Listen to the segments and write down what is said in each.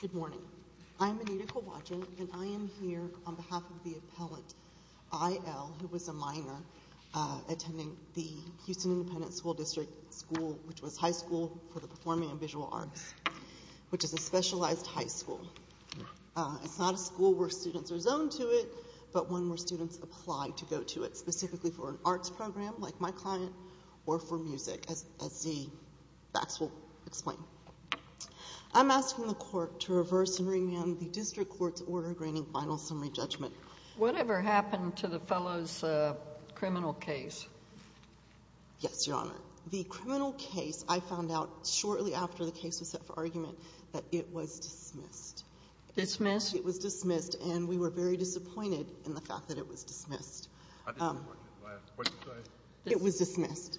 Good morning. I'm Anita Kowalczyk and I am here on behalf of the appellant I.L. who was a minor attending the Houston Independent School District School, which was high school for the performing and visual arts, which is a specialized high school. It's not a school where students are zoned to it, but one where students apply to go to it, specifically for an arts program, like my client, or for music, as the facts will explain. I'm asking the court to reverse and remand the district court's order granting final summary judgment. Whatever happened to the fellow's criminal case? Yes, Your Honor. The criminal case, I found out shortly after the case was set for argument, that it was dismissed. Dismissed? It was dismissed, and we were very disappointed in the fact that it was dismissed. I didn't hear the question last. What did you say? It was dismissed.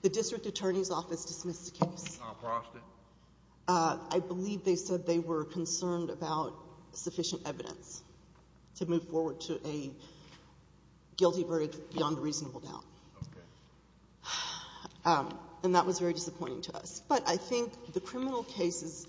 The district attorney's office dismissed the case. I believe they said they were concerned about sufficient evidence to move forward to a guilty verdict beyond a reasonable doubt. Okay. And that was very disappointing to us. But I think the criminal case is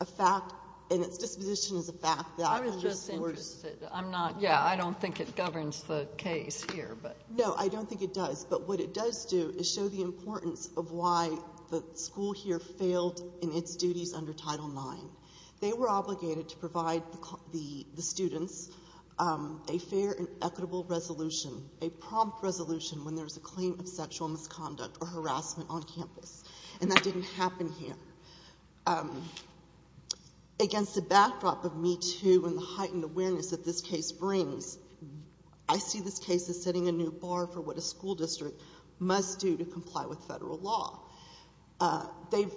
a fact, and its disposition is a fact that underscores... I was just interested. I'm not... Yeah, I don't think it governs the case here, but... No, I don't think it does, but what it does do is show the importance of why the school here failed in its duties under Title IX. They were obligated to provide the students a fair and equitable resolution, a prompt resolution when there's a claim of sexual misconduct or harassment on campus, and that didn't happen here. Against the backdrop of Me Too and the heightened awareness that this case brings, I see this case as setting a new bar for what a school district must do to comply with federal law. They've...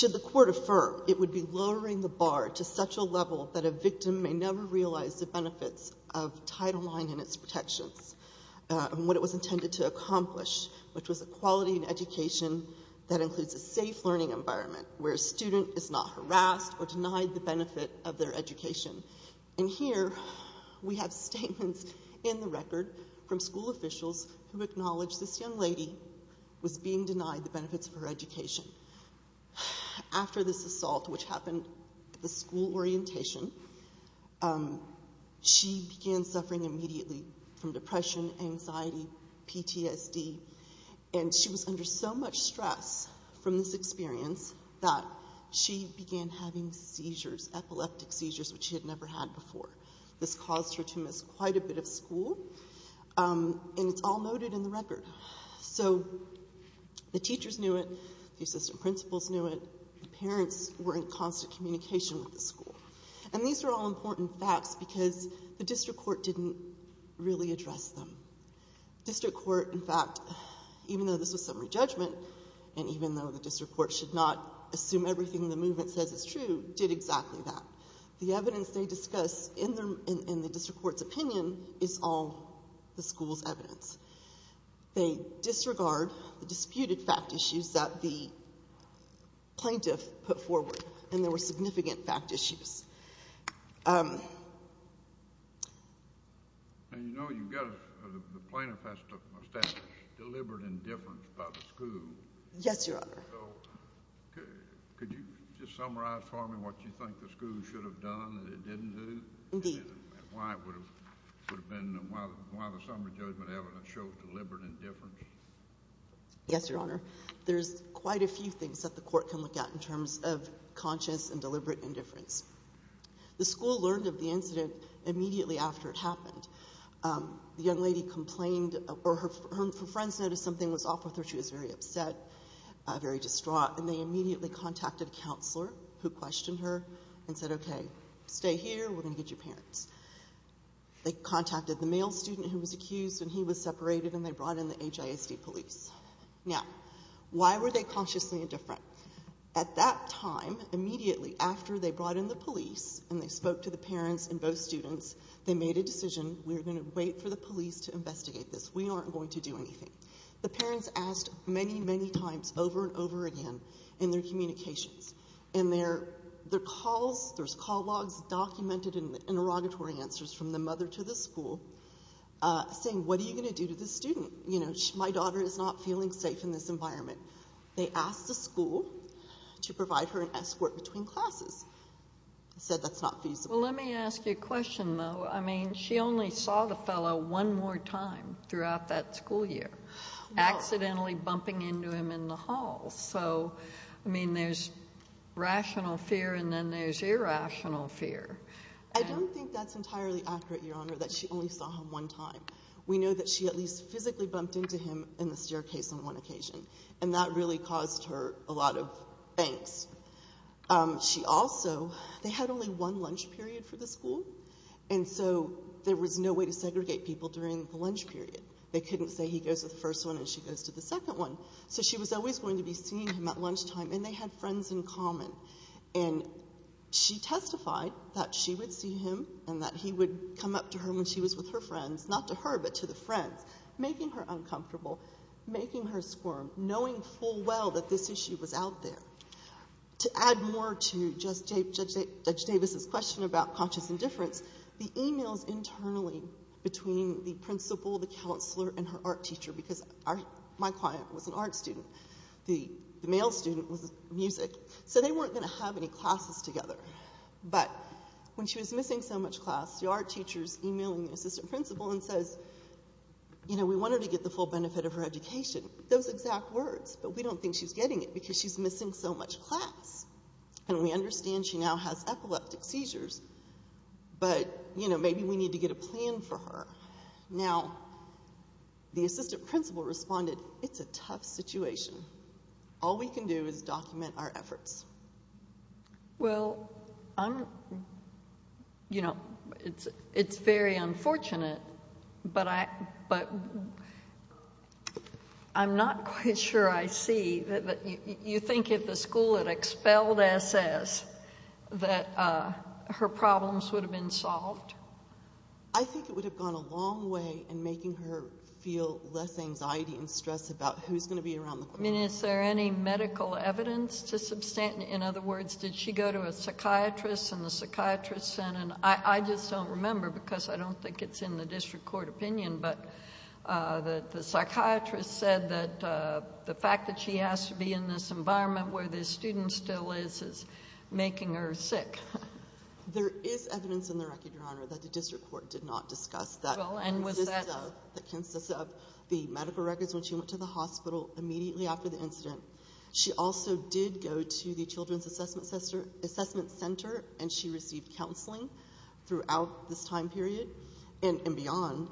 They're setting the bar to such a level that a victim may never realize the benefits of Title IX and its protections, and what it was intended to accomplish, which was a quality in education that includes a safe learning environment where a student is not harassed or denied the benefit of their education. And here, we have statements in the record from school officials who acknowledge this young lady was being denied the benefits of her education. After this assault, which happened at the school orientation, she began suffering immediately from depression, anxiety, PTSD, and she was under so much stress from this experience that she began having seizures, epileptic seizures, which she had never had before. This caused her to miss quite a bit of school, and it's all noted in the record. So the teachers knew it, the assistant principals knew it, the parents were in constant communication with the school. And these are all important facts because the district court didn't really address them. The district court, in fact, even though this was summary judgment, and even though the district court should not assume everything the movement says is true, did exactly that. The evidence they discussed in the district court's opinion is all the same. They disregard the disputed fact issues that the plaintiff put forward, and there were significant fact issues. And you know, you've got the plaintiff has to establish deliberate indifference by the school. Yes, Your Honor. So could you just summarize for me what you think the school should have done and it didn't do? Indeed. And why it would have been, why the summary judgment evidence shows deliberate indifference? Yes, Your Honor. There's quite a few things that the court can look at in terms of conscious and deliberate indifference. The school learned of the incident immediately after it happened. The young lady complained, or her friends noticed something was off with her. She was very upset, very distraught, and they immediately contacted a counselor who questioned her and said, okay, stay here, we're going to get your parents. They contacted the male student who was accused, and he was separated, and they brought in the HISD police. Now, why were they consciously indifferent? At that time, immediately after they brought in the police and they spoke to the parents and both students, they made a decision, we're going to wait for the police to investigate this. We aren't going to do anything. The parents asked many, many times over and over again in their communications, in their saying, what are you going to do to this student? My daughter is not feeling safe in this environment. They asked the school to provide her an escort between classes. They said that's not feasible. Well, let me ask you a question, though. I mean, she only saw the fellow one more time throughout that school year, accidentally bumping into him in the hall. So, I mean, there's rational fear, and then there's irrational fear. I don't think that's entirely accurate, Your Honor, that she only saw him one time. We know that she at least physically bumped into him in the staircase on one occasion, and that really caused her a lot of angst. She also, they had only one lunch period for the school, and so there was no way to segregate people during the lunch period. They couldn't say he goes to the first one and she goes to the second one. So she was always going to be seeing him at lunchtime, and they had friends in common. And she testified that she would see him and that he would come up to her when she was with her friends, not to her but to the friends, making her uncomfortable, making her squirm, knowing full well that this issue was out there. To add more to Judge Davis's question about conscious indifference, the e-mails internally between the principal, the counselor, and her art teacher, because my client was an art student, the male student was music, so they weren't going to have any classes together. But when she was missing so much class, the art teacher's e-mailing the assistant principal and says, you know, we want her to get the full benefit of her education. Those exact words, but we don't think she's getting it because she's missing so much class. And we understand she now has epileptic seizures, but maybe we need to get a plan for her. Now, the assistant principal responded, it's a tough situation. All we can do is document our efforts. Well, I'm, you know, it's very unfortunate, but I'm not quite sure I see. You think if the school had expelled S.S. that her problems would have been solved? I think it would have gone a long way in making her feel less anxiety and stress about who's going to be around the class. I mean, is there any medical evidence to substantiate, in other words, did she go to a psychiatrist and the psychiatrist said, and I just don't remember because I don't think it's in the district court opinion, but the psychiatrist said that the fact that she has to be in this environment where the student still is is making her sick. There is evidence in the record, Your Honor, that the district court did not discuss that. Well, and was that? That consists of the medical records when she went to the hospital immediately after the incident. She also did go to the children's assessment center, and she received counseling throughout this time period and beyond.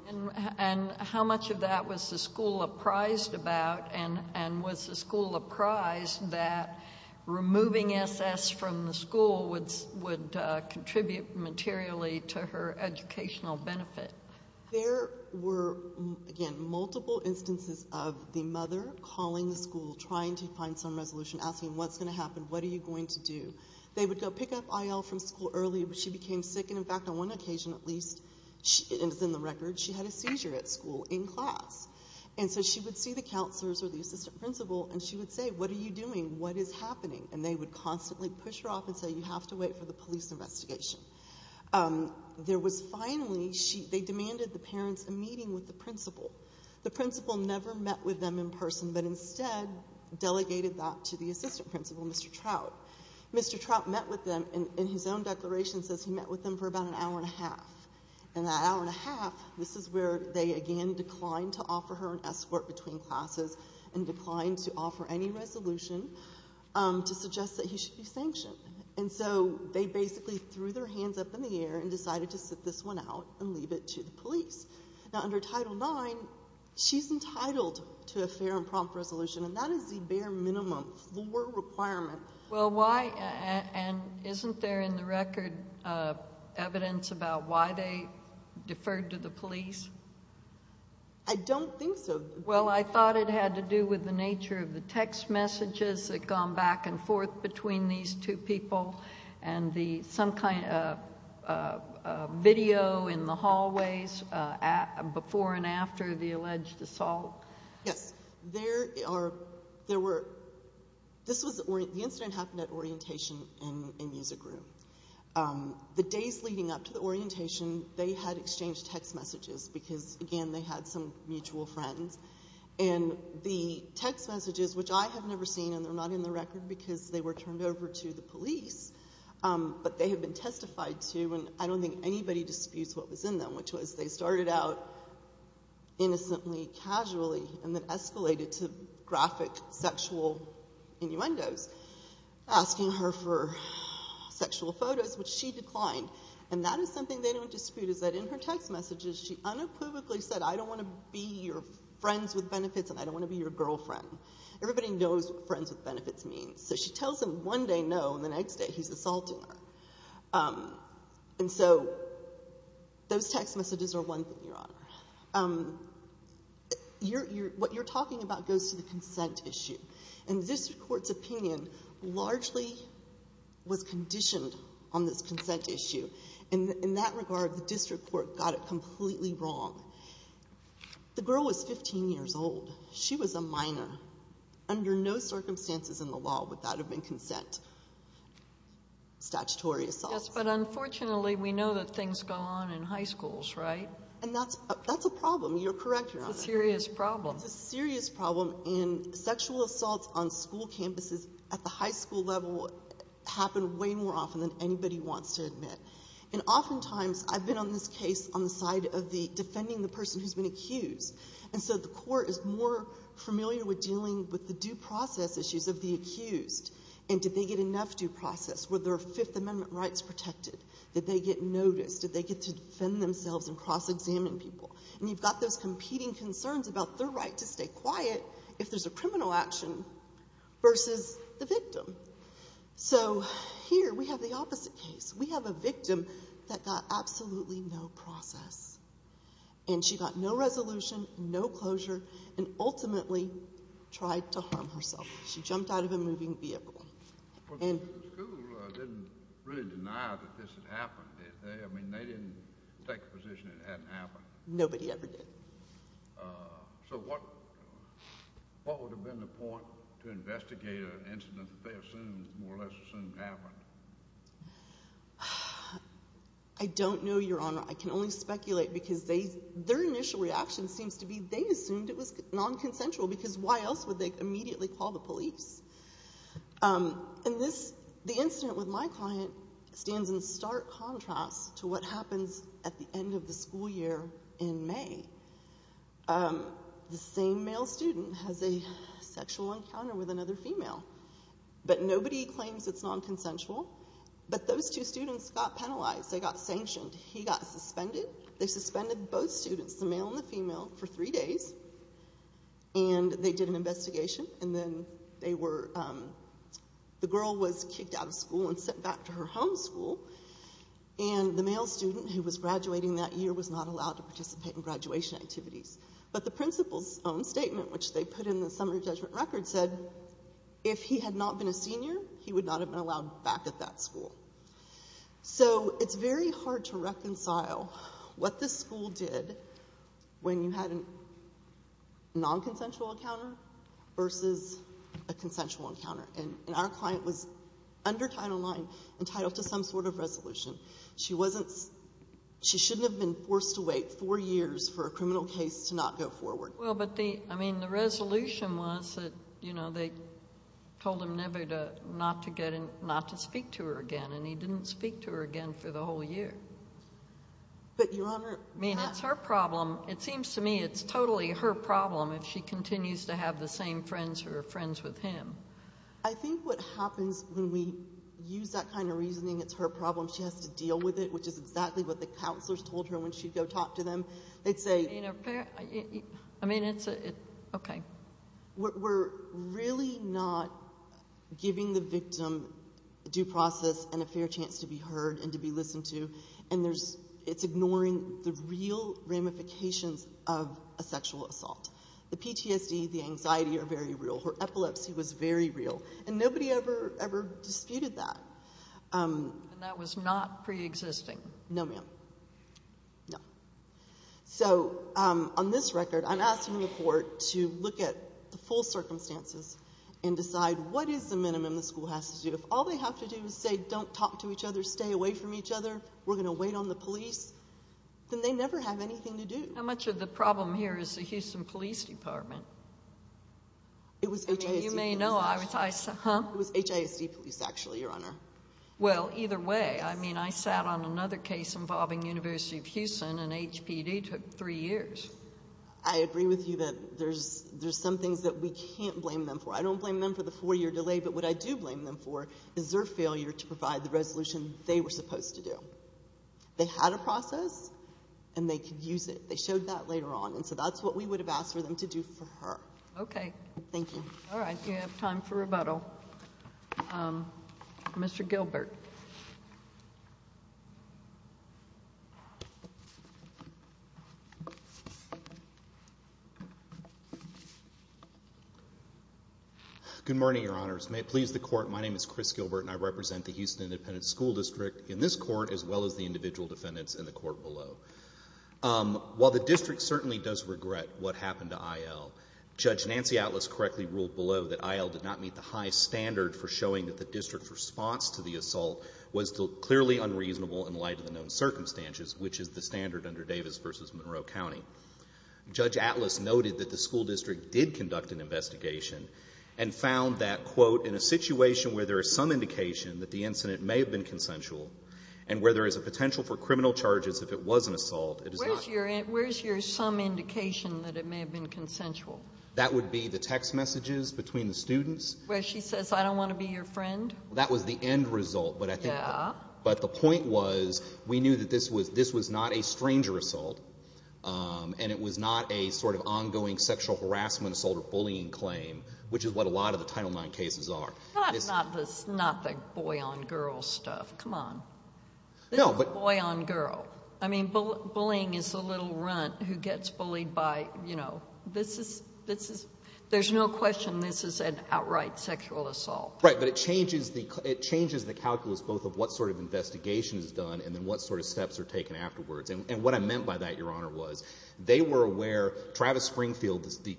And how much of that was the school apprised about, and was the school apprised that removing S.S. from the school would contribute materially to her educational benefit? There were, again, multiple instances of the mother calling the school, trying to find some resolution, asking, What's going to happen? What are you going to do? They would go pick up I.L. from school early, but she became sick, and, in fact, on one occasion at least, and it's in the record, she had a seizure at school in class. And so she would see the counselors or the assistant principal, and she would say, What are you doing? What is happening? And they would constantly push her off and say, You have to wait for the police investigation. There was finally, they demanded the parents a meeting with the principal. The principal never met with them in person, but instead delegated that to the assistant principal, Mr. Trout. Mr. Trout met with them, and his own declaration says he met with them for about an hour and a half. And that hour and a half, this is where they, again, declined to offer her an escort between classes and declined to offer any resolution to suggest that he should be sanctioned. And so they basically threw their hands up in the air and decided to sit this one out and leave it to the police. Now, under Title IX, she's entitled to a fair and prompt resolution, and that is the bare minimum floor requirement. Well, why, and isn't there in the record evidence about why they deferred to the police? I don't think so. Well, I thought it had to do with the nature of the text messages that had gone back and forth between these two people and some kind of video in the hallways before and after the alleged assault. Yes. There were, this was, the incident happened at orientation in a music room. The days leading up to the orientation, they had exchanged text messages because, again, they had some mutual friends. And the text messages, which I have never seen, and they're not in the record because they were turned over to the police, but they had been testified to, and I don't think anybody disputes what was in them, which was they started out innocently, casually, and then escalated to graphic sexual innuendos, asking her for sexual photos, which she declined. And that is something they don't dispute, is that in her text messages she unopposedly said, I don't want to be your friends with benefits and I don't want to be your girlfriend. Everybody knows what friends with benefits means. So she tells him one day no, and the next day he's assaulting her. And so those text messages are one thing, Your Honor. What you're talking about goes to the consent issue. And the district court's opinion largely was conditioned on this consent issue. In that regard, the district court got it completely wrong. The girl was 15 years old. She was a minor. Under no circumstances in the law would that have been consent. Statutory assault. Yes, but unfortunately we know that things go on in high schools, right? And that's a problem. You're correct, Your Honor. It's a serious problem. It's a serious problem, and sexual assaults on school campuses at the high school level happen way more often than anybody wants to admit. And oftentimes I've been on this case on the side of defending the person who's been accused. And did they get enough due process? Were their Fifth Amendment rights protected? Did they get noticed? Did they get to defend themselves and cross-examine people? And you've got those competing concerns about their right to stay quiet if there's a criminal action versus the victim. So here we have the opposite case. We have a victim that got absolutely no process. And she got no resolution, no closure, and ultimately tried to harm herself. She jumped out of a moving vehicle. The school didn't really deny that this had happened, did they? I mean, they didn't take the position it hadn't happened. Nobody ever did. So what would have been the point to investigate an incident that they assumed, more or less assumed, happened? I don't know, Your Honor. I can only speculate because their initial reaction seems to be they assumed it was nonconsensual because why else would they immediately call the police? And the incident with my client stands in stark contrast to what happens at the end of the school year in May. The same male student has a sexual encounter with another female, but nobody claims it's nonconsensual. But those two students got penalized. They got sanctioned. He got suspended. They suspended both students, the male and the female, for three days, and they did an investigation. And then the girl was kicked out of school and sent back to her home school, and the male student who was graduating that year was not allowed to participate in graduation activities. But the principal's own statement, which they put in the summary judgment record, said if he had not been a senior, he would not have been allowed back at that school. So it's very hard to reconcile what this school did when you had a nonconsensual encounter versus a consensual encounter. And our client was under Title IX entitled to some sort of resolution. She shouldn't have been forced to wait four years for a criminal case to not go forward. Well, but the resolution was that they told him never not to speak to her again, and he didn't speak to her again for the whole year. But, Your Honor— I mean, it's her problem. It seems to me it's totally her problem if she continues to have the same friends who are friends with him. I think what happens when we use that kind of reasoning, it's her problem. She has to deal with it, which is exactly what the counselors told her when she'd go talk to them. They'd say— I mean, it's—okay. We're really not giving the victim due process and a fair chance to be heard and to be listened to, and it's ignoring the real ramifications of a sexual assault. The PTSD, the anxiety are very real. Her epilepsy was very real. And nobody ever disputed that. And that was not preexisting. No, ma'am. No. So, on this record, I'm asking the court to look at the full circumstances and decide what is the minimum the school has to do. If all they have to do is say, don't talk to each other, stay away from each other, we're going to wait on the police, then they never have anything to do. How much of the problem here is the Houston Police Department? It was HISD. You may know. It was HISD police, actually, Your Honor. Well, either way, I mean, I sat on another case involving University of Houston, and HPD took three years. I agree with you that there's some things that we can't blame them for. I don't blame them for the four-year delay, but what I do blame them for is their failure to provide the resolution they were supposed to do. They had a process, and they could use it. They showed that later on, and so that's what we would have asked for them to do for her. Okay. Thank you. All right. You have time for rebuttal. Mr. Gilbert. Good morning, Your Honors. May it please the Court, my name is Chris Gilbert, and I represent the Houston Independent School District in this court as well as the individual defendants in the court below. While the district certainly does regret what happened to IL, Judge Nancy Atlas correctly ruled below that IL did not meet the high standard for showing that the district's response to the assault was clearly unreasonable in light of the known circumstances, which is the standard under Davis v. Monroe County. Judge Atlas noted that the school district did conduct an investigation and found that, quote, in a situation where there is some indication that the incident may have been consensual and where there is a potential for criminal charges if it was an assault, it is not. Where's your some indication that it may have been consensual? That would be the text messages between the students. Where she says, I don't want to be your friend? That was the end result. Yeah. But the point was we knew that this was not a stranger assault and it was not a sort of ongoing sexual harassment assault or bullying claim, which is what a lot of the Title IX cases are. Not the boy-on-girl stuff. Come on. No. Boy-on-girl. I mean, bullying is the little runt who gets bullied by, you know, this is — there's no question this is an outright sexual assault. Right. But it changes the calculus both of what sort of investigation is done and then what sort of steps are taken afterwards. And what I meant by that, Your Honor, was they were aware — Travis Springfield, the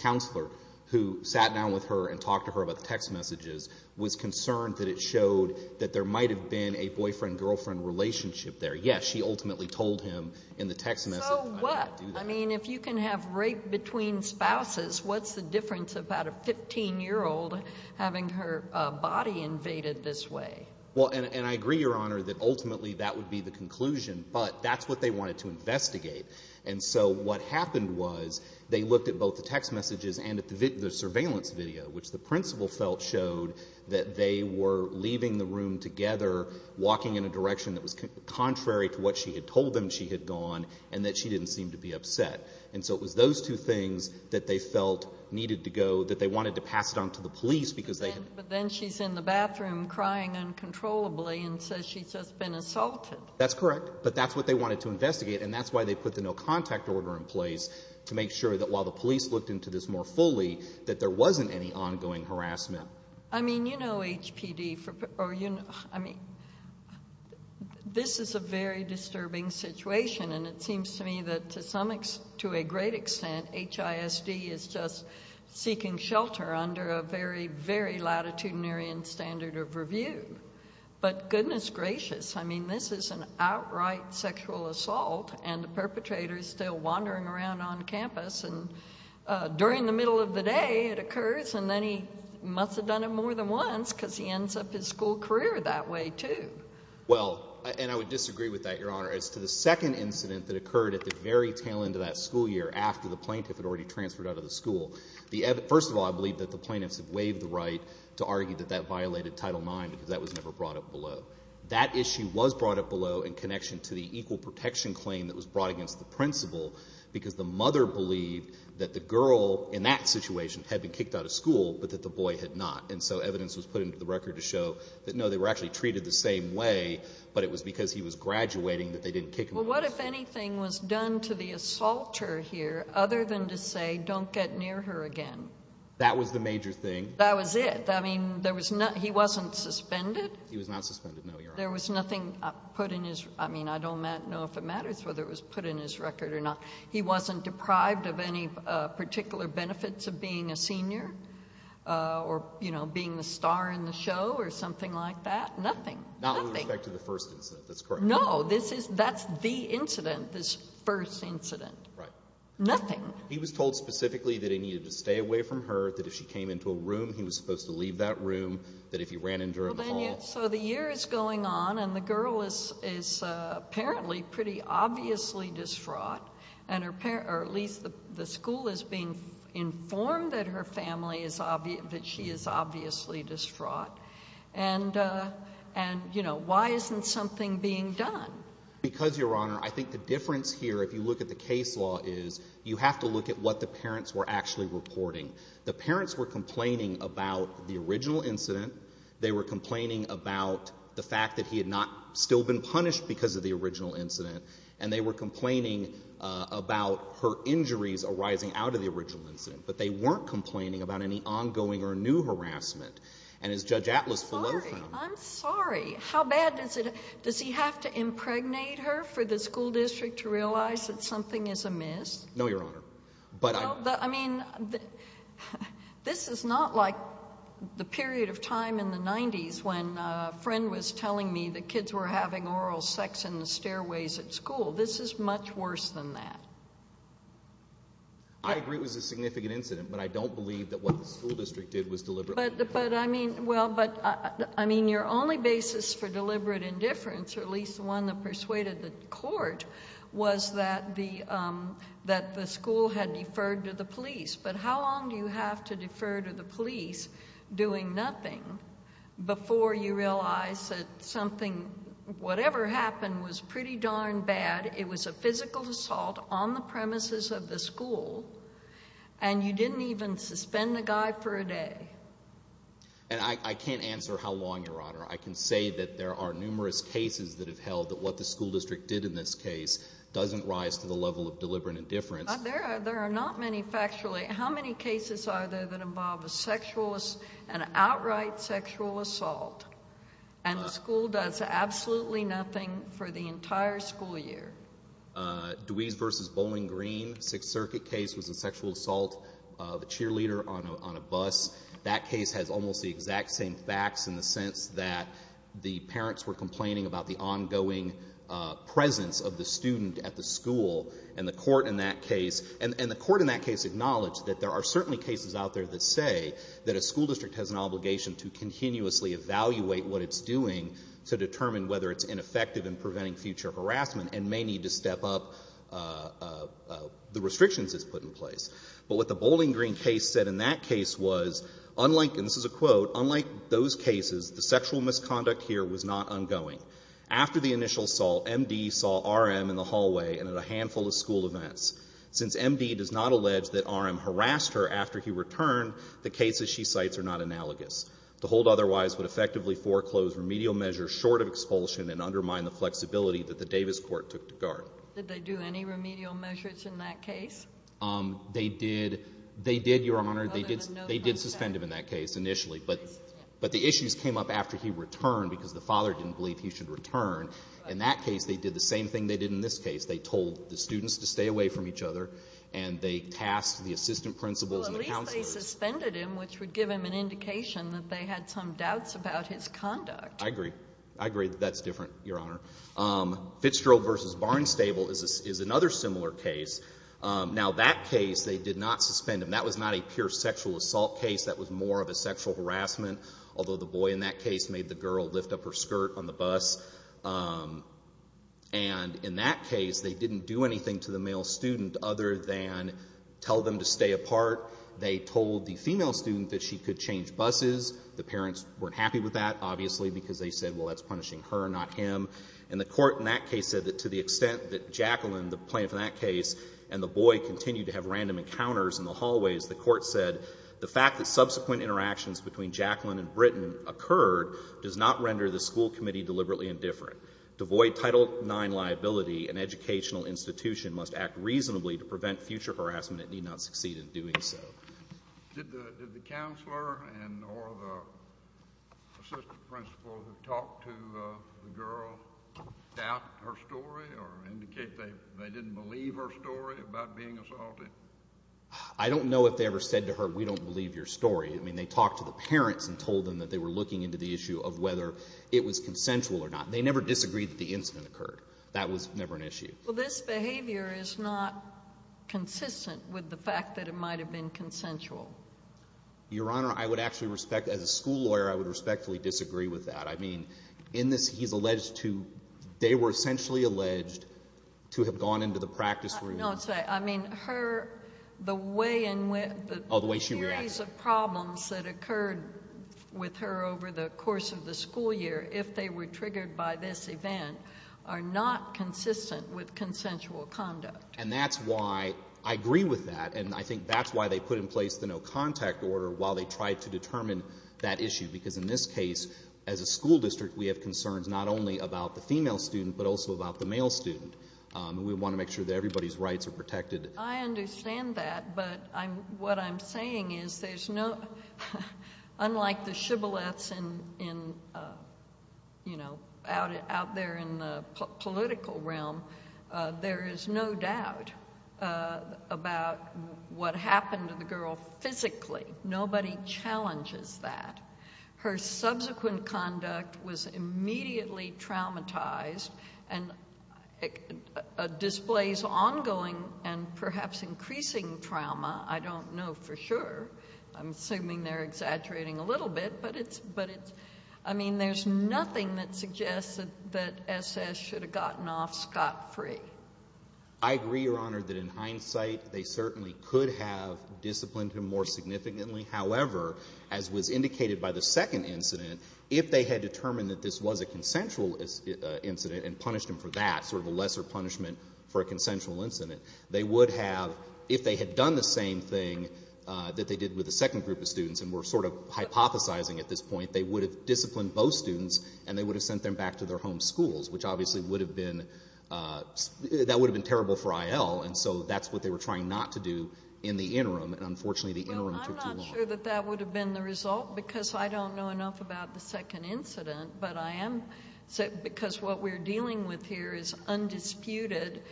counselor who sat down with her and talked to her about the text messages, was concerned that it showed that there might have been a boyfriend-girlfriend relationship there. Yes, she ultimately told him in the text message. So what? I mean, if you can have rape between spouses, what's the difference about a 15-year-old having her body invaded this way? Well, and I agree, Your Honor, that ultimately that would be the conclusion. But that's what they wanted to investigate. And so what happened was they looked at both the text messages and at the surveillance video, which the principal felt showed that they were leaving the room together, walking in a direction that was contrary to what she had told them she had gone, and that she didn't seem to be upset. And so it was those two things that they felt needed to go, that they wanted to pass it on to the police because they had— But then she's in the bathroom crying uncontrollably and says she's just been assaulted. That's correct. But that's what they wanted to investigate, and that's why they put the no-contact order in place, to make sure that while the police looked into this more fully, that there wasn't any ongoing harassment. I mean, you know HPD—I mean, this is a very disturbing situation, and it seems to me that to a great extent HISD is just seeking shelter under a very, very latitudinarian standard of review. But goodness gracious, I mean, this is an outright sexual assault, and the perpetrator is still wandering around on campus. And during the middle of the day it occurs, and then he must have done it more than once because he ends up his school career that way too. Well, and I would disagree with that, Your Honor, as to the second incident that occurred at the very tail end of that school year after the plaintiff had already transferred out of the school. First of all, I believe that the plaintiffs have waived the right to argue that that violated Title IX because that was never brought up below. That issue was brought up below in connection to the equal protection claim that was brought against the principal because the mother believed that the girl, in that situation, had been kicked out of school but that the boy had not. And so evidence was put into the record to show that, no, they were actually treated the same way, but it was because he was graduating that they didn't kick him out. Well, what, if anything, was done to the assaulter here other than to say, don't get near her again? That was the major thing. That was it. I mean, there was no—he wasn't suspended? He was not suspended, no, Your Honor. There was nothing put in his—I mean, I don't know if it matters whether it was put in his record or not. He wasn't deprived of any particular benefits of being a senior or, you know, being the star in the show or something like that? Nothing, nothing. Not with respect to the first incident. That's correct. No. This is—that's the incident, this first incident. Right. Nothing. He was told specifically that he needed to stay away from her, that if she came into a room, he was supposed to leave that room, that if he ran into her in the hall— So the year is going on, and the girl is apparently pretty obviously distraught, or at least the school is being informed that her family is—that she is obviously distraught. And, you know, why isn't something being done? Because, Your Honor, I think the difference here, if you look at the case law, is you have to look at what the parents were actually reporting. The parents were complaining about the original incident. They were complaining about the fact that he had not still been punished because of the original incident. And they were complaining about her injuries arising out of the original incident. But they weren't complaining about any ongoing or new harassment. And as Judge Atlas below found out— I'm sorry. How bad does it—does he have to impregnate her for the school district to realize that something is amiss? No, Your Honor. But I— Well, I mean, this is not like the period of time in the 90s when a friend was telling me that kids were having oral sex in the stairways at school. This is much worse than that. I agree it was a significant incident, but I don't believe that what the school district did was deliberate. But, I mean, well, but, I mean, your only basis for deliberate indifference, or at least the one that persuaded the court, was that the school had deferred to the police. But how long do you have to defer to the police doing nothing before you realize that something, whatever happened, was pretty darn bad? It was a physical assault on the premises of the school, and you didn't even suspend the guy for a day. And I can't answer how long, Your Honor. I can say that there are numerous cases that have held that what the school district did in this case doesn't rise to the level of deliberate indifference. There are not many factually. How many cases are there that involve a sexual, an outright sexual assault, and the school does absolutely nothing for the entire school year? Dweese v. Bowling Green, Sixth Circuit case, was a sexual assault of a cheerleader on a bus. That case has almost the exact same facts in the sense that the parents were complaining about the ongoing presence of the student at the school. And the court in that case — and the court in that case acknowledged that there are certainly cases out there that say that a school district has an obligation to continuously evaluate what it's doing to determine whether it's ineffective in preventing future harassment and may need to step up the restrictions it's put in place. But what the Bowling Green case said in that case was, unlike — and this is a quote — unlike those cases, the sexual misconduct here was not ongoing. After the initial assault, M.D. saw R.M. in the hallway and at a handful of school events. Since M.D. does not allege that R.M. harassed her after he returned, the cases she cites are not analogous. The hold otherwise would effectively foreclose remedial measures short of expulsion and undermine the flexibility that the Davis court took to guard. Did they do any remedial measures in that case? They did. They did, Your Honor. They did suspend him in that case initially, but the issues came up after he returned because the father didn't believe he should return. In that case, they did the same thing they did in this case. They told the students to stay away from each other, and they tasked the assistant principals and the counselors — Well, at least they suspended him, which would give him an indication that they had some doubts about his conduct. I agree. I agree that that's different, Your Honor. Fitzgerald v. Barnstable is another similar case. Now, that case, they did not suspend him. That was not a pure sexual assault case. That was more of a sexual harassment, although the boy in that case made the girl lift up her skirt on the bus. And in that case, they didn't do anything to the male student other than tell them to stay apart. They told the female student that she could change buses. The parents weren't happy with that, obviously, because they said, well, that's punishing her, not him. And the court in that case said that to the extent that Jacqueline, the plaintiff in that case, and the boy continued to have random encounters in the hallways, the court said, the fact that subsequent interactions between Jacqueline and Britton occurred does not render the school committee deliberately indifferent. To avoid Title IX liability, an educational institution must act reasonably to prevent future harassment that need not succeed in doing so. Did the counselor and or the assistant principal who talked to the girl doubt her story or indicate they didn't believe her story about being assaulted? I don't know if they ever said to her, we don't believe your story. I mean, they talked to the parents and told them that they were looking into the issue of whether it was consensual or not. They never disagreed that the incident occurred. That was never an issue. Well, this behavior is not consistent with the fact that it might have been consensual. Your Honor, I would actually respect, as a school lawyer, I would respectfully disagree with that. I mean, in this, he's alleged to, they were essentially alleged to have gone into the practice room. No, I'm sorry. I mean, her, the way in which the series of problems that occurred with her over the course of the school year, if they were triggered by this event, are not consistent with consensual conduct. And that's why I agree with that, and I think that's why they put in place the no-contact order while they tried to determine that issue, because in this case, as a school district, we have concerns not only about the female student, but also about the male student. We want to make sure that everybody's rights are protected. I understand that, but what I'm saying is there's no, unlike the shibboleths in, you know, out there in the political realm, there is no doubt about what happened to the girl physically. Nobody challenges that. Her subsequent conduct was immediately traumatized and displays ongoing and perhaps increasing trauma. I don't know for sure. I'm assuming they're exaggerating a little bit, but it's, I mean, there's nothing that suggests that S.S. should have gotten off scot-free. I agree, Your Honor, that in hindsight, they certainly could have disciplined him more significantly. However, as was indicated by the second incident, if they had determined that this was a consensual incident and punished him for that, sort of a lesser punishment for a consensual incident, they would have, if they had done the same thing that they did with the second group of students and were sort of hypothesizing at this point, they would have disciplined both students and they would have sent them back to their home schools, which obviously would have been, that would have been terrible for I.L., and so that's what they were trying not to do in the interim, and unfortunately the interim took too long. Well, I'm not sure that that would have been the result because I don't know enough about the second incident, but I am, because what we're dealing with here is undisputed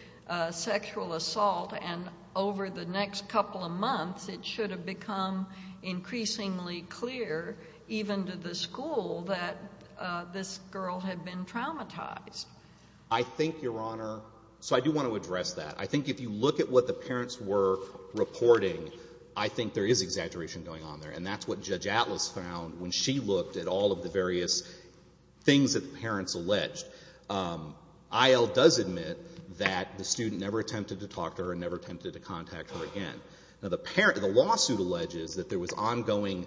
sexual assault, and over the next couple of months it should have become increasingly clear, even to the school, that this girl had been traumatized. I think, Your Honor, so I do want to address that. I think if you look at what the parents were reporting, I think there is exaggeration going on there, and that's what Judge Atlas found when she looked at all of the various things that the parents alleged. I.L. does admit that the student never attempted to talk to her and never attempted to contact her again. Now, the lawsuit alleges that there was ongoing,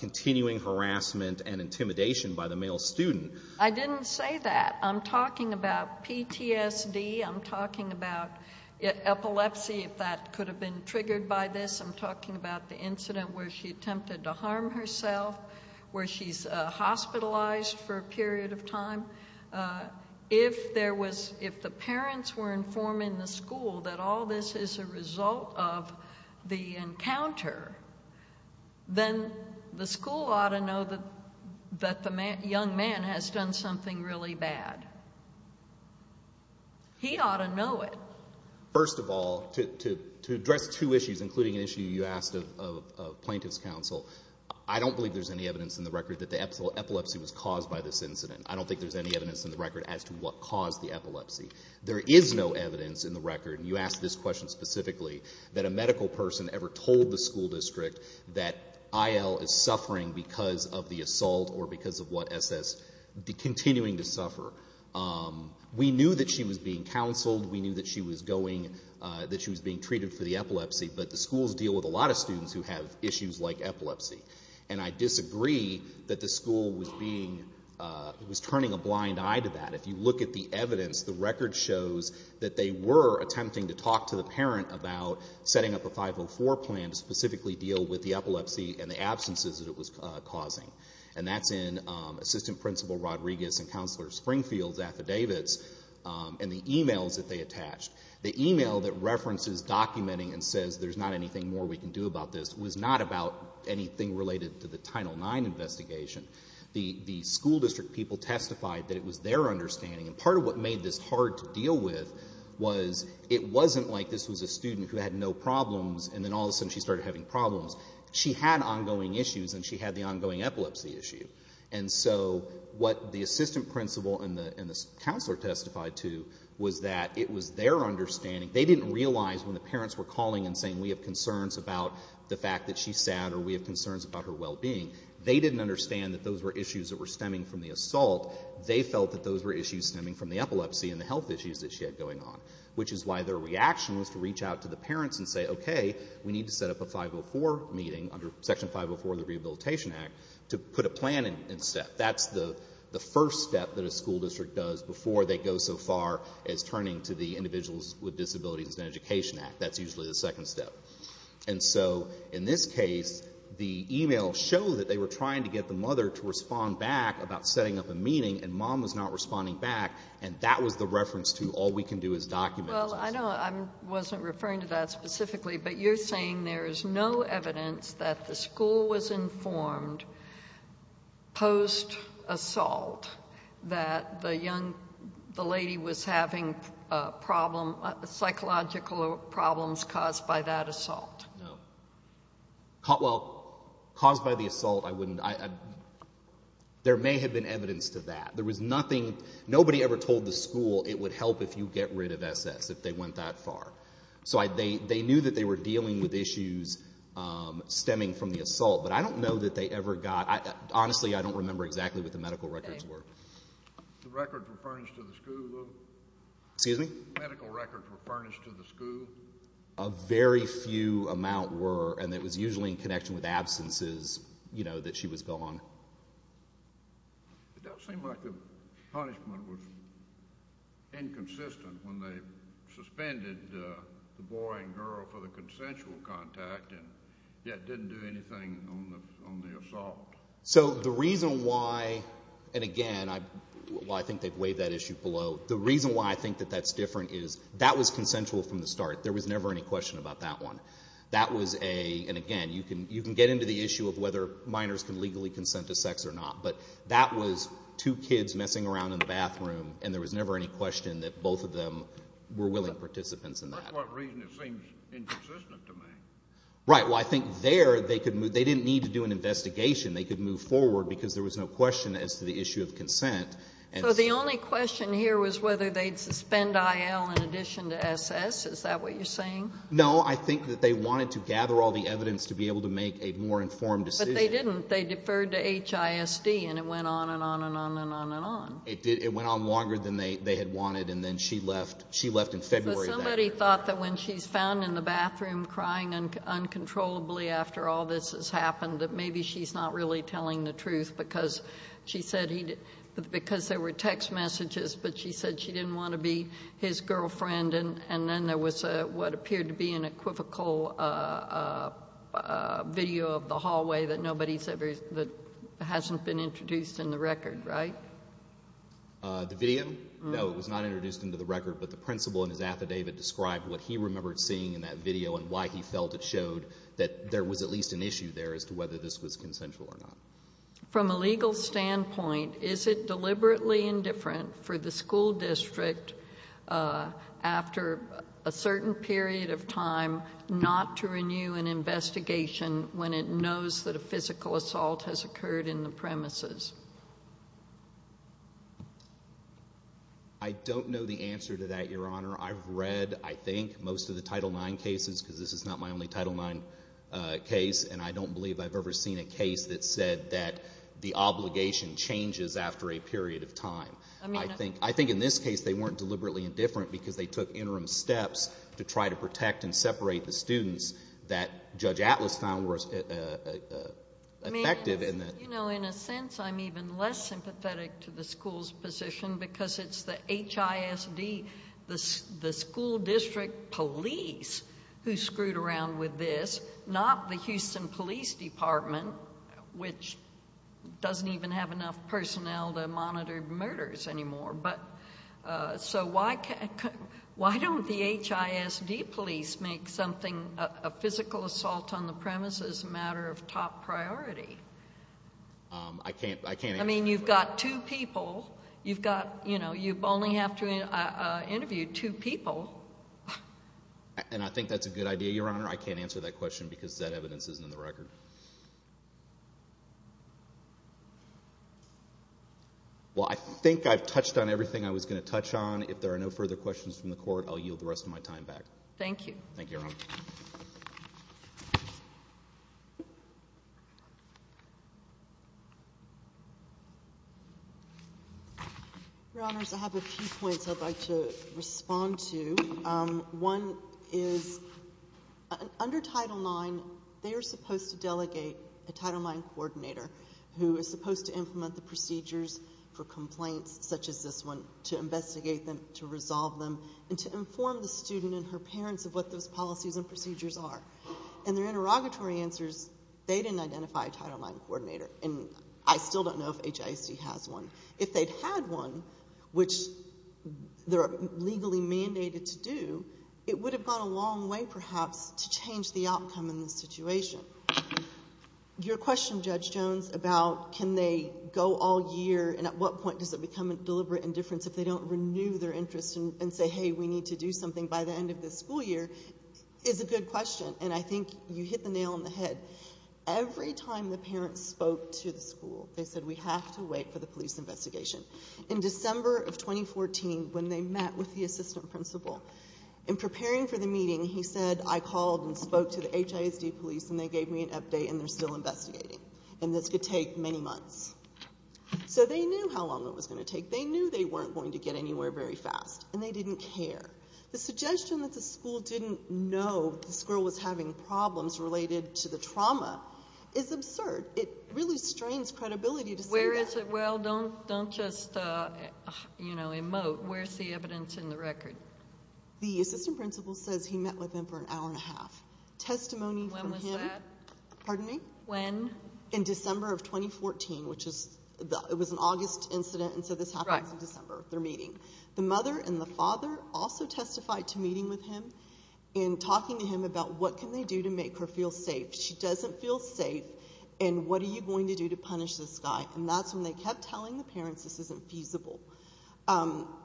continuing harassment and intimidation by the male student. I didn't say that. I'm talking about PTSD. I'm talking about epilepsy, if that could have been triggered by this. I'm talking about the incident where she attempted to harm herself, where she's hospitalized for a period of time. If there was, if the parents were informing the school that all this is a result of the encounter, then the school ought to know that the young man has done something really bad. He ought to know it. First of all, to address two issues, including an issue you asked of plaintiff's counsel, I don't believe there's any evidence in the record that the epilepsy was caused by this incident. as to what caused the epilepsy. There is no evidence in the record, and you asked this question specifically, that a medical person ever told the school district that I.L. is suffering because of the assault or because of what SS, continuing to suffer. We knew that she was being counseled. We knew that she was going, that she was being treated for the epilepsy. But the schools deal with a lot of students who have issues like epilepsy. And I disagree that the school was being, was turning a blind eye to that. If you look at the evidence, the record shows that they were attempting to talk to the parent about setting up a 504 plan to specifically deal with the epilepsy and the absences that it was causing. And that's in Assistant Principal Rodriguez and Counselor Springfield's affidavits and the e-mails that they attached. The e-mail that references documenting and says there's not anything more we can do about this was not about anything related to the Title IX investigation. The school district people testified that it was their understanding. And part of what made this hard to deal with was it wasn't like this was a student who had no problems and then all of a sudden she started having problems. She had ongoing issues and she had the ongoing epilepsy issue. And so what the Assistant Principal and the Counselor testified to was that it was their understanding. They didn't realize when the parents were calling and saying we have concerns about the fact that she's sad or we have concerns about her well-being, they didn't understand that those were issues that were stemming from the assault. They felt that those were issues stemming from the epilepsy and the health issues that she had going on, which is why their reaction was to reach out to the parents and say, okay, we need to set up a 504 meeting under Section 504 of the Rehabilitation Act to put a plan in step. That's the first step that a school district does before they go so far as turning to the Individuals with Disabilities and Education Act. That's usually the second step. And so in this case, the e-mails show that they were trying to get the mother to respond back about setting up a meeting, and Mom was not responding back, and that was the reference to all we can do is document. Well, I know I wasn't referring to that specifically, but you're saying there is no evidence that the school was informed post-assault that the young lady was having a problem, psychological problems caused by that assault. No. Well, caused by the assault, I wouldn't. There may have been evidence to that. There was nothing. Nobody ever told the school it would help if you get rid of SS if they went that far. So they knew that they were dealing with issues stemming from the assault, but I don't know that they ever got. Honestly, I don't remember exactly what the medical records were. The records were furnished to the school. Excuse me? Medical records were furnished to the school. A very few amount were, and it was usually in connection with absences that she was gone. It does seem like the punishment was inconsistent when they suspended the boy and girl for the consensual contact and yet didn't do anything on the assault. So the reason why, and again, I think they've weighed that issue below. The reason why I think that that's different is that was consensual from the start. There was never any question about that one. That was a, and again, you can get into the issue of whether minors can legally consent to sex or not, but that was two kids messing around in the bathroom, and there was never any question that both of them were willing participants in that. That's one reason it seems inconsistent to me. Right. Well, I think there they didn't need to do an investigation. They could move forward because there was no question as to the issue of consent. in addition to SS. Is that what you're saying? No. I think that they wanted to gather all the evidence to be able to make a more informed decision. But they didn't. They deferred to HISD, and it went on and on and on and on and on. It did. It went on longer than they had wanted, and then she left in February of that year. Somebody thought that when she's found in the bathroom crying uncontrollably after all this has happened that maybe she's not really telling the truth because she said he didn't, because there were text messages, but she said she didn't want to be his girlfriend, and then there was what appeared to be an equivocal video of the hallway that nobody said that hasn't been introduced in the record, right? The video? No, it was not introduced into the record, but the principal in his affidavit described what he remembered seeing in that video and why he felt it showed that there was at least an issue there as to whether this was consensual or not. From a legal standpoint, is it deliberately indifferent for the school district after a certain period of time not to renew an investigation when it knows that a physical assault has occurred in the premises? I don't know the answer to that, Your Honor. I've read, I think, most of the Title IX cases, because this is not my only Title IX case, and I don't believe I've ever seen a case that said that the obligation changes after a period of time. I think in this case they weren't deliberately indifferent because they took interim steps to try to protect and separate the students that Judge Atlas found were effective. You know, in a sense, I'm even less sympathetic to the school's position because it's the HISD, the school district police, who screwed around with this, not the Houston Police Department, which doesn't even have enough personnel to monitor murders anymore. So why don't the HISD police make a physical assault on the premises a matter of top priority? I can't answer that question. I mean, you've got two people. You only have to interview two people. And I think that's a good idea, Your Honor. I can't answer that question because that evidence isn't in the record. Well, I think I've touched on everything I was going to touch on. If there are no further questions from the Court, I'll yield the rest of my time back. Thank you. Thank you, Your Honor. Your Honors, I have a few points I'd like to respond to. One is, under Title IX, they are supposed to delegate a Title IX coordinator who is supposed to implement the procedures for complaints such as this one to investigate them, to resolve them, and to inform the student and her parents of what those policies and procedures are. And their interrogatory answers, they didn't identify a Title IX coordinator. And I still don't know if HISD has one. If they'd had one, which they're legally mandated to do, it would have gone a long way, perhaps, to change the outcome in the situation. Your question, Judge Jones, about can they go all year and at what point does it become a deliberate indifference if they don't renew their interest and say, hey, we need to do something by the end of this school year, is a good question. And I think you hit the nail on the head. Every time the parents spoke to the school, they said we have to wait for the police investigation. In December of 2014, when they met with the assistant principal, in preparing for the meeting, he said I called and spoke to the HISD police and they gave me an update and they're still investigating. And this could take many months. So they knew how long it was going to take. They knew they weren't going to get anywhere very fast. And they didn't care. The suggestion that the school didn't know this girl was having problems related to the trauma is absurd. It really strains credibility to say that. Where is it? Well, don't just, you know, emote. Where's the evidence in the record? The assistant principal says he met with him for an hour and a half. Testimony from him. When was that? Pardon me? When? In December of 2014, which was an August incident, and so this happens in December, their meeting. The mother and the father also testified to meeting with him and talking to him about what can they do to make her feel safe. She doesn't feel safe, and what are you going to do to punish this guy? And that's when they kept telling the parents this isn't feasible.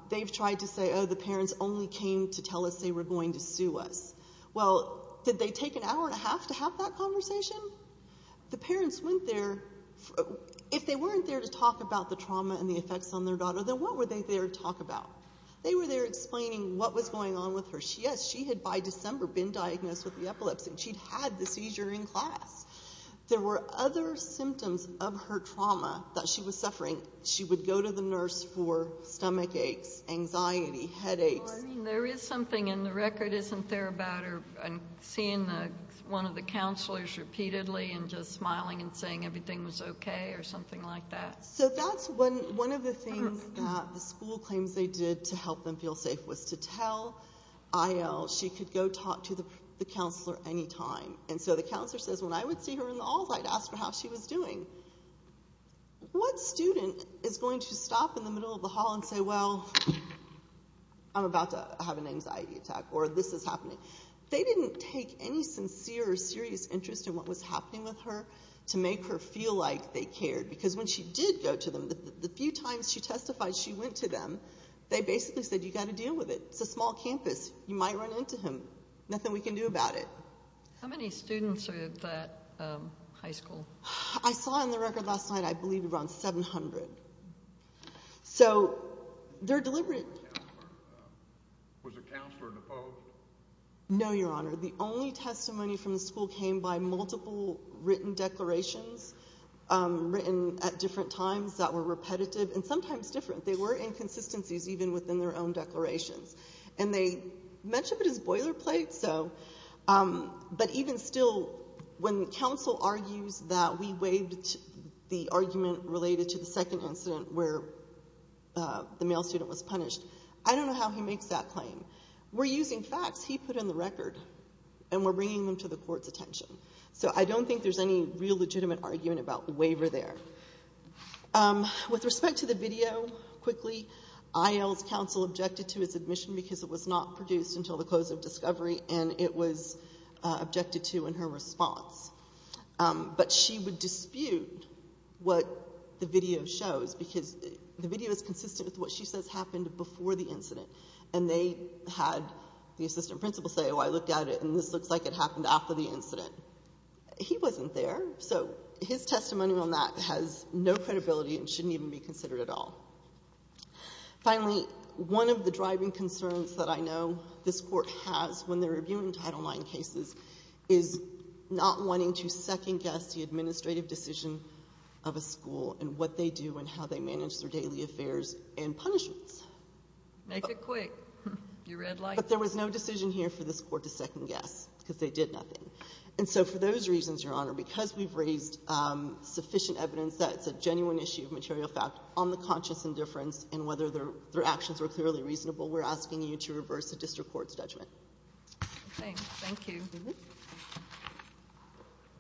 They've tried to say, oh, the parents only came to tell us they were going to sue us. Well, did they take an hour and a half to have that conversation? The parents went there. If they weren't there to talk about the trauma and the effects on their daughter, then what were they there to talk about? They were there explaining what was going on with her. Yes, she had by December been diagnosed with the epilepsy. She'd had the seizure in class. There were other symptoms of her trauma that she was suffering. She would go to the nurse for stomach aches, anxiety, headaches. Well, I mean, there is something in the record, isn't there, about her seeing one of the counselors repeatedly and just smiling and saying everything was okay or something like that? So that's one of the things that the school claims they did to help them feel safe was to tell IL she could go talk to the counselor anytime. And so the counselor says, when I would see her in the halls, I'd ask her how she was doing. What student is going to stop in the middle of the hall and say, well, I'm about to have an anxiety attack or this is happening? They didn't take any sincere or serious interest in what was happening with her to make her feel like they cared because when she did go to them, the few times she testified she went to them, they basically said, you've got to deal with it. It's a small campus. You might run into him. Nothing we can do about it. How many students are at that high school? I saw in the record last night I believe around 700. So they're deliberate. Was the counselor opposed? No, Your Honor. The only testimony from the school came by multiple written declarations written at different times that were repetitive and sometimes different. They were inconsistencies even within their own declarations. And they mentioned it as boilerplate, but even still when counsel argues that we waived the argument related to the second incident where the male student was punished, I don't know how he makes that claim. We're using facts he put in the record, and we're bringing them to the court's attention. So I don't think there's any real legitimate argument about the waiver there. With respect to the video, quickly, IL's counsel objected to his admission because it was not produced until the close of discovery, and it was objected to in her response. But she would dispute what the video shows because the video is consistent with what she says happened before the incident. And they had the assistant principal say, oh, I looked at it, and this looks like it happened after the incident. He wasn't there. So his testimony on that has no credibility and shouldn't even be considered at all. Finally, one of the driving concerns that I know this Court has when they're reviewing Title IX cases is not wanting to second-guess the administrative decision of a school and what they do and how they manage their daily affairs and punishments. Make it quick. You red light? But there was no decision here for this Court to second-guess because they did nothing. And so for those reasons, Your Honor, because we've raised sufficient evidence that it's a genuine issue of material fact on the conscious indifference and whether their actions were clearly reasonable, we're asking you to reverse the district court's judgment. Thanks. Thank you.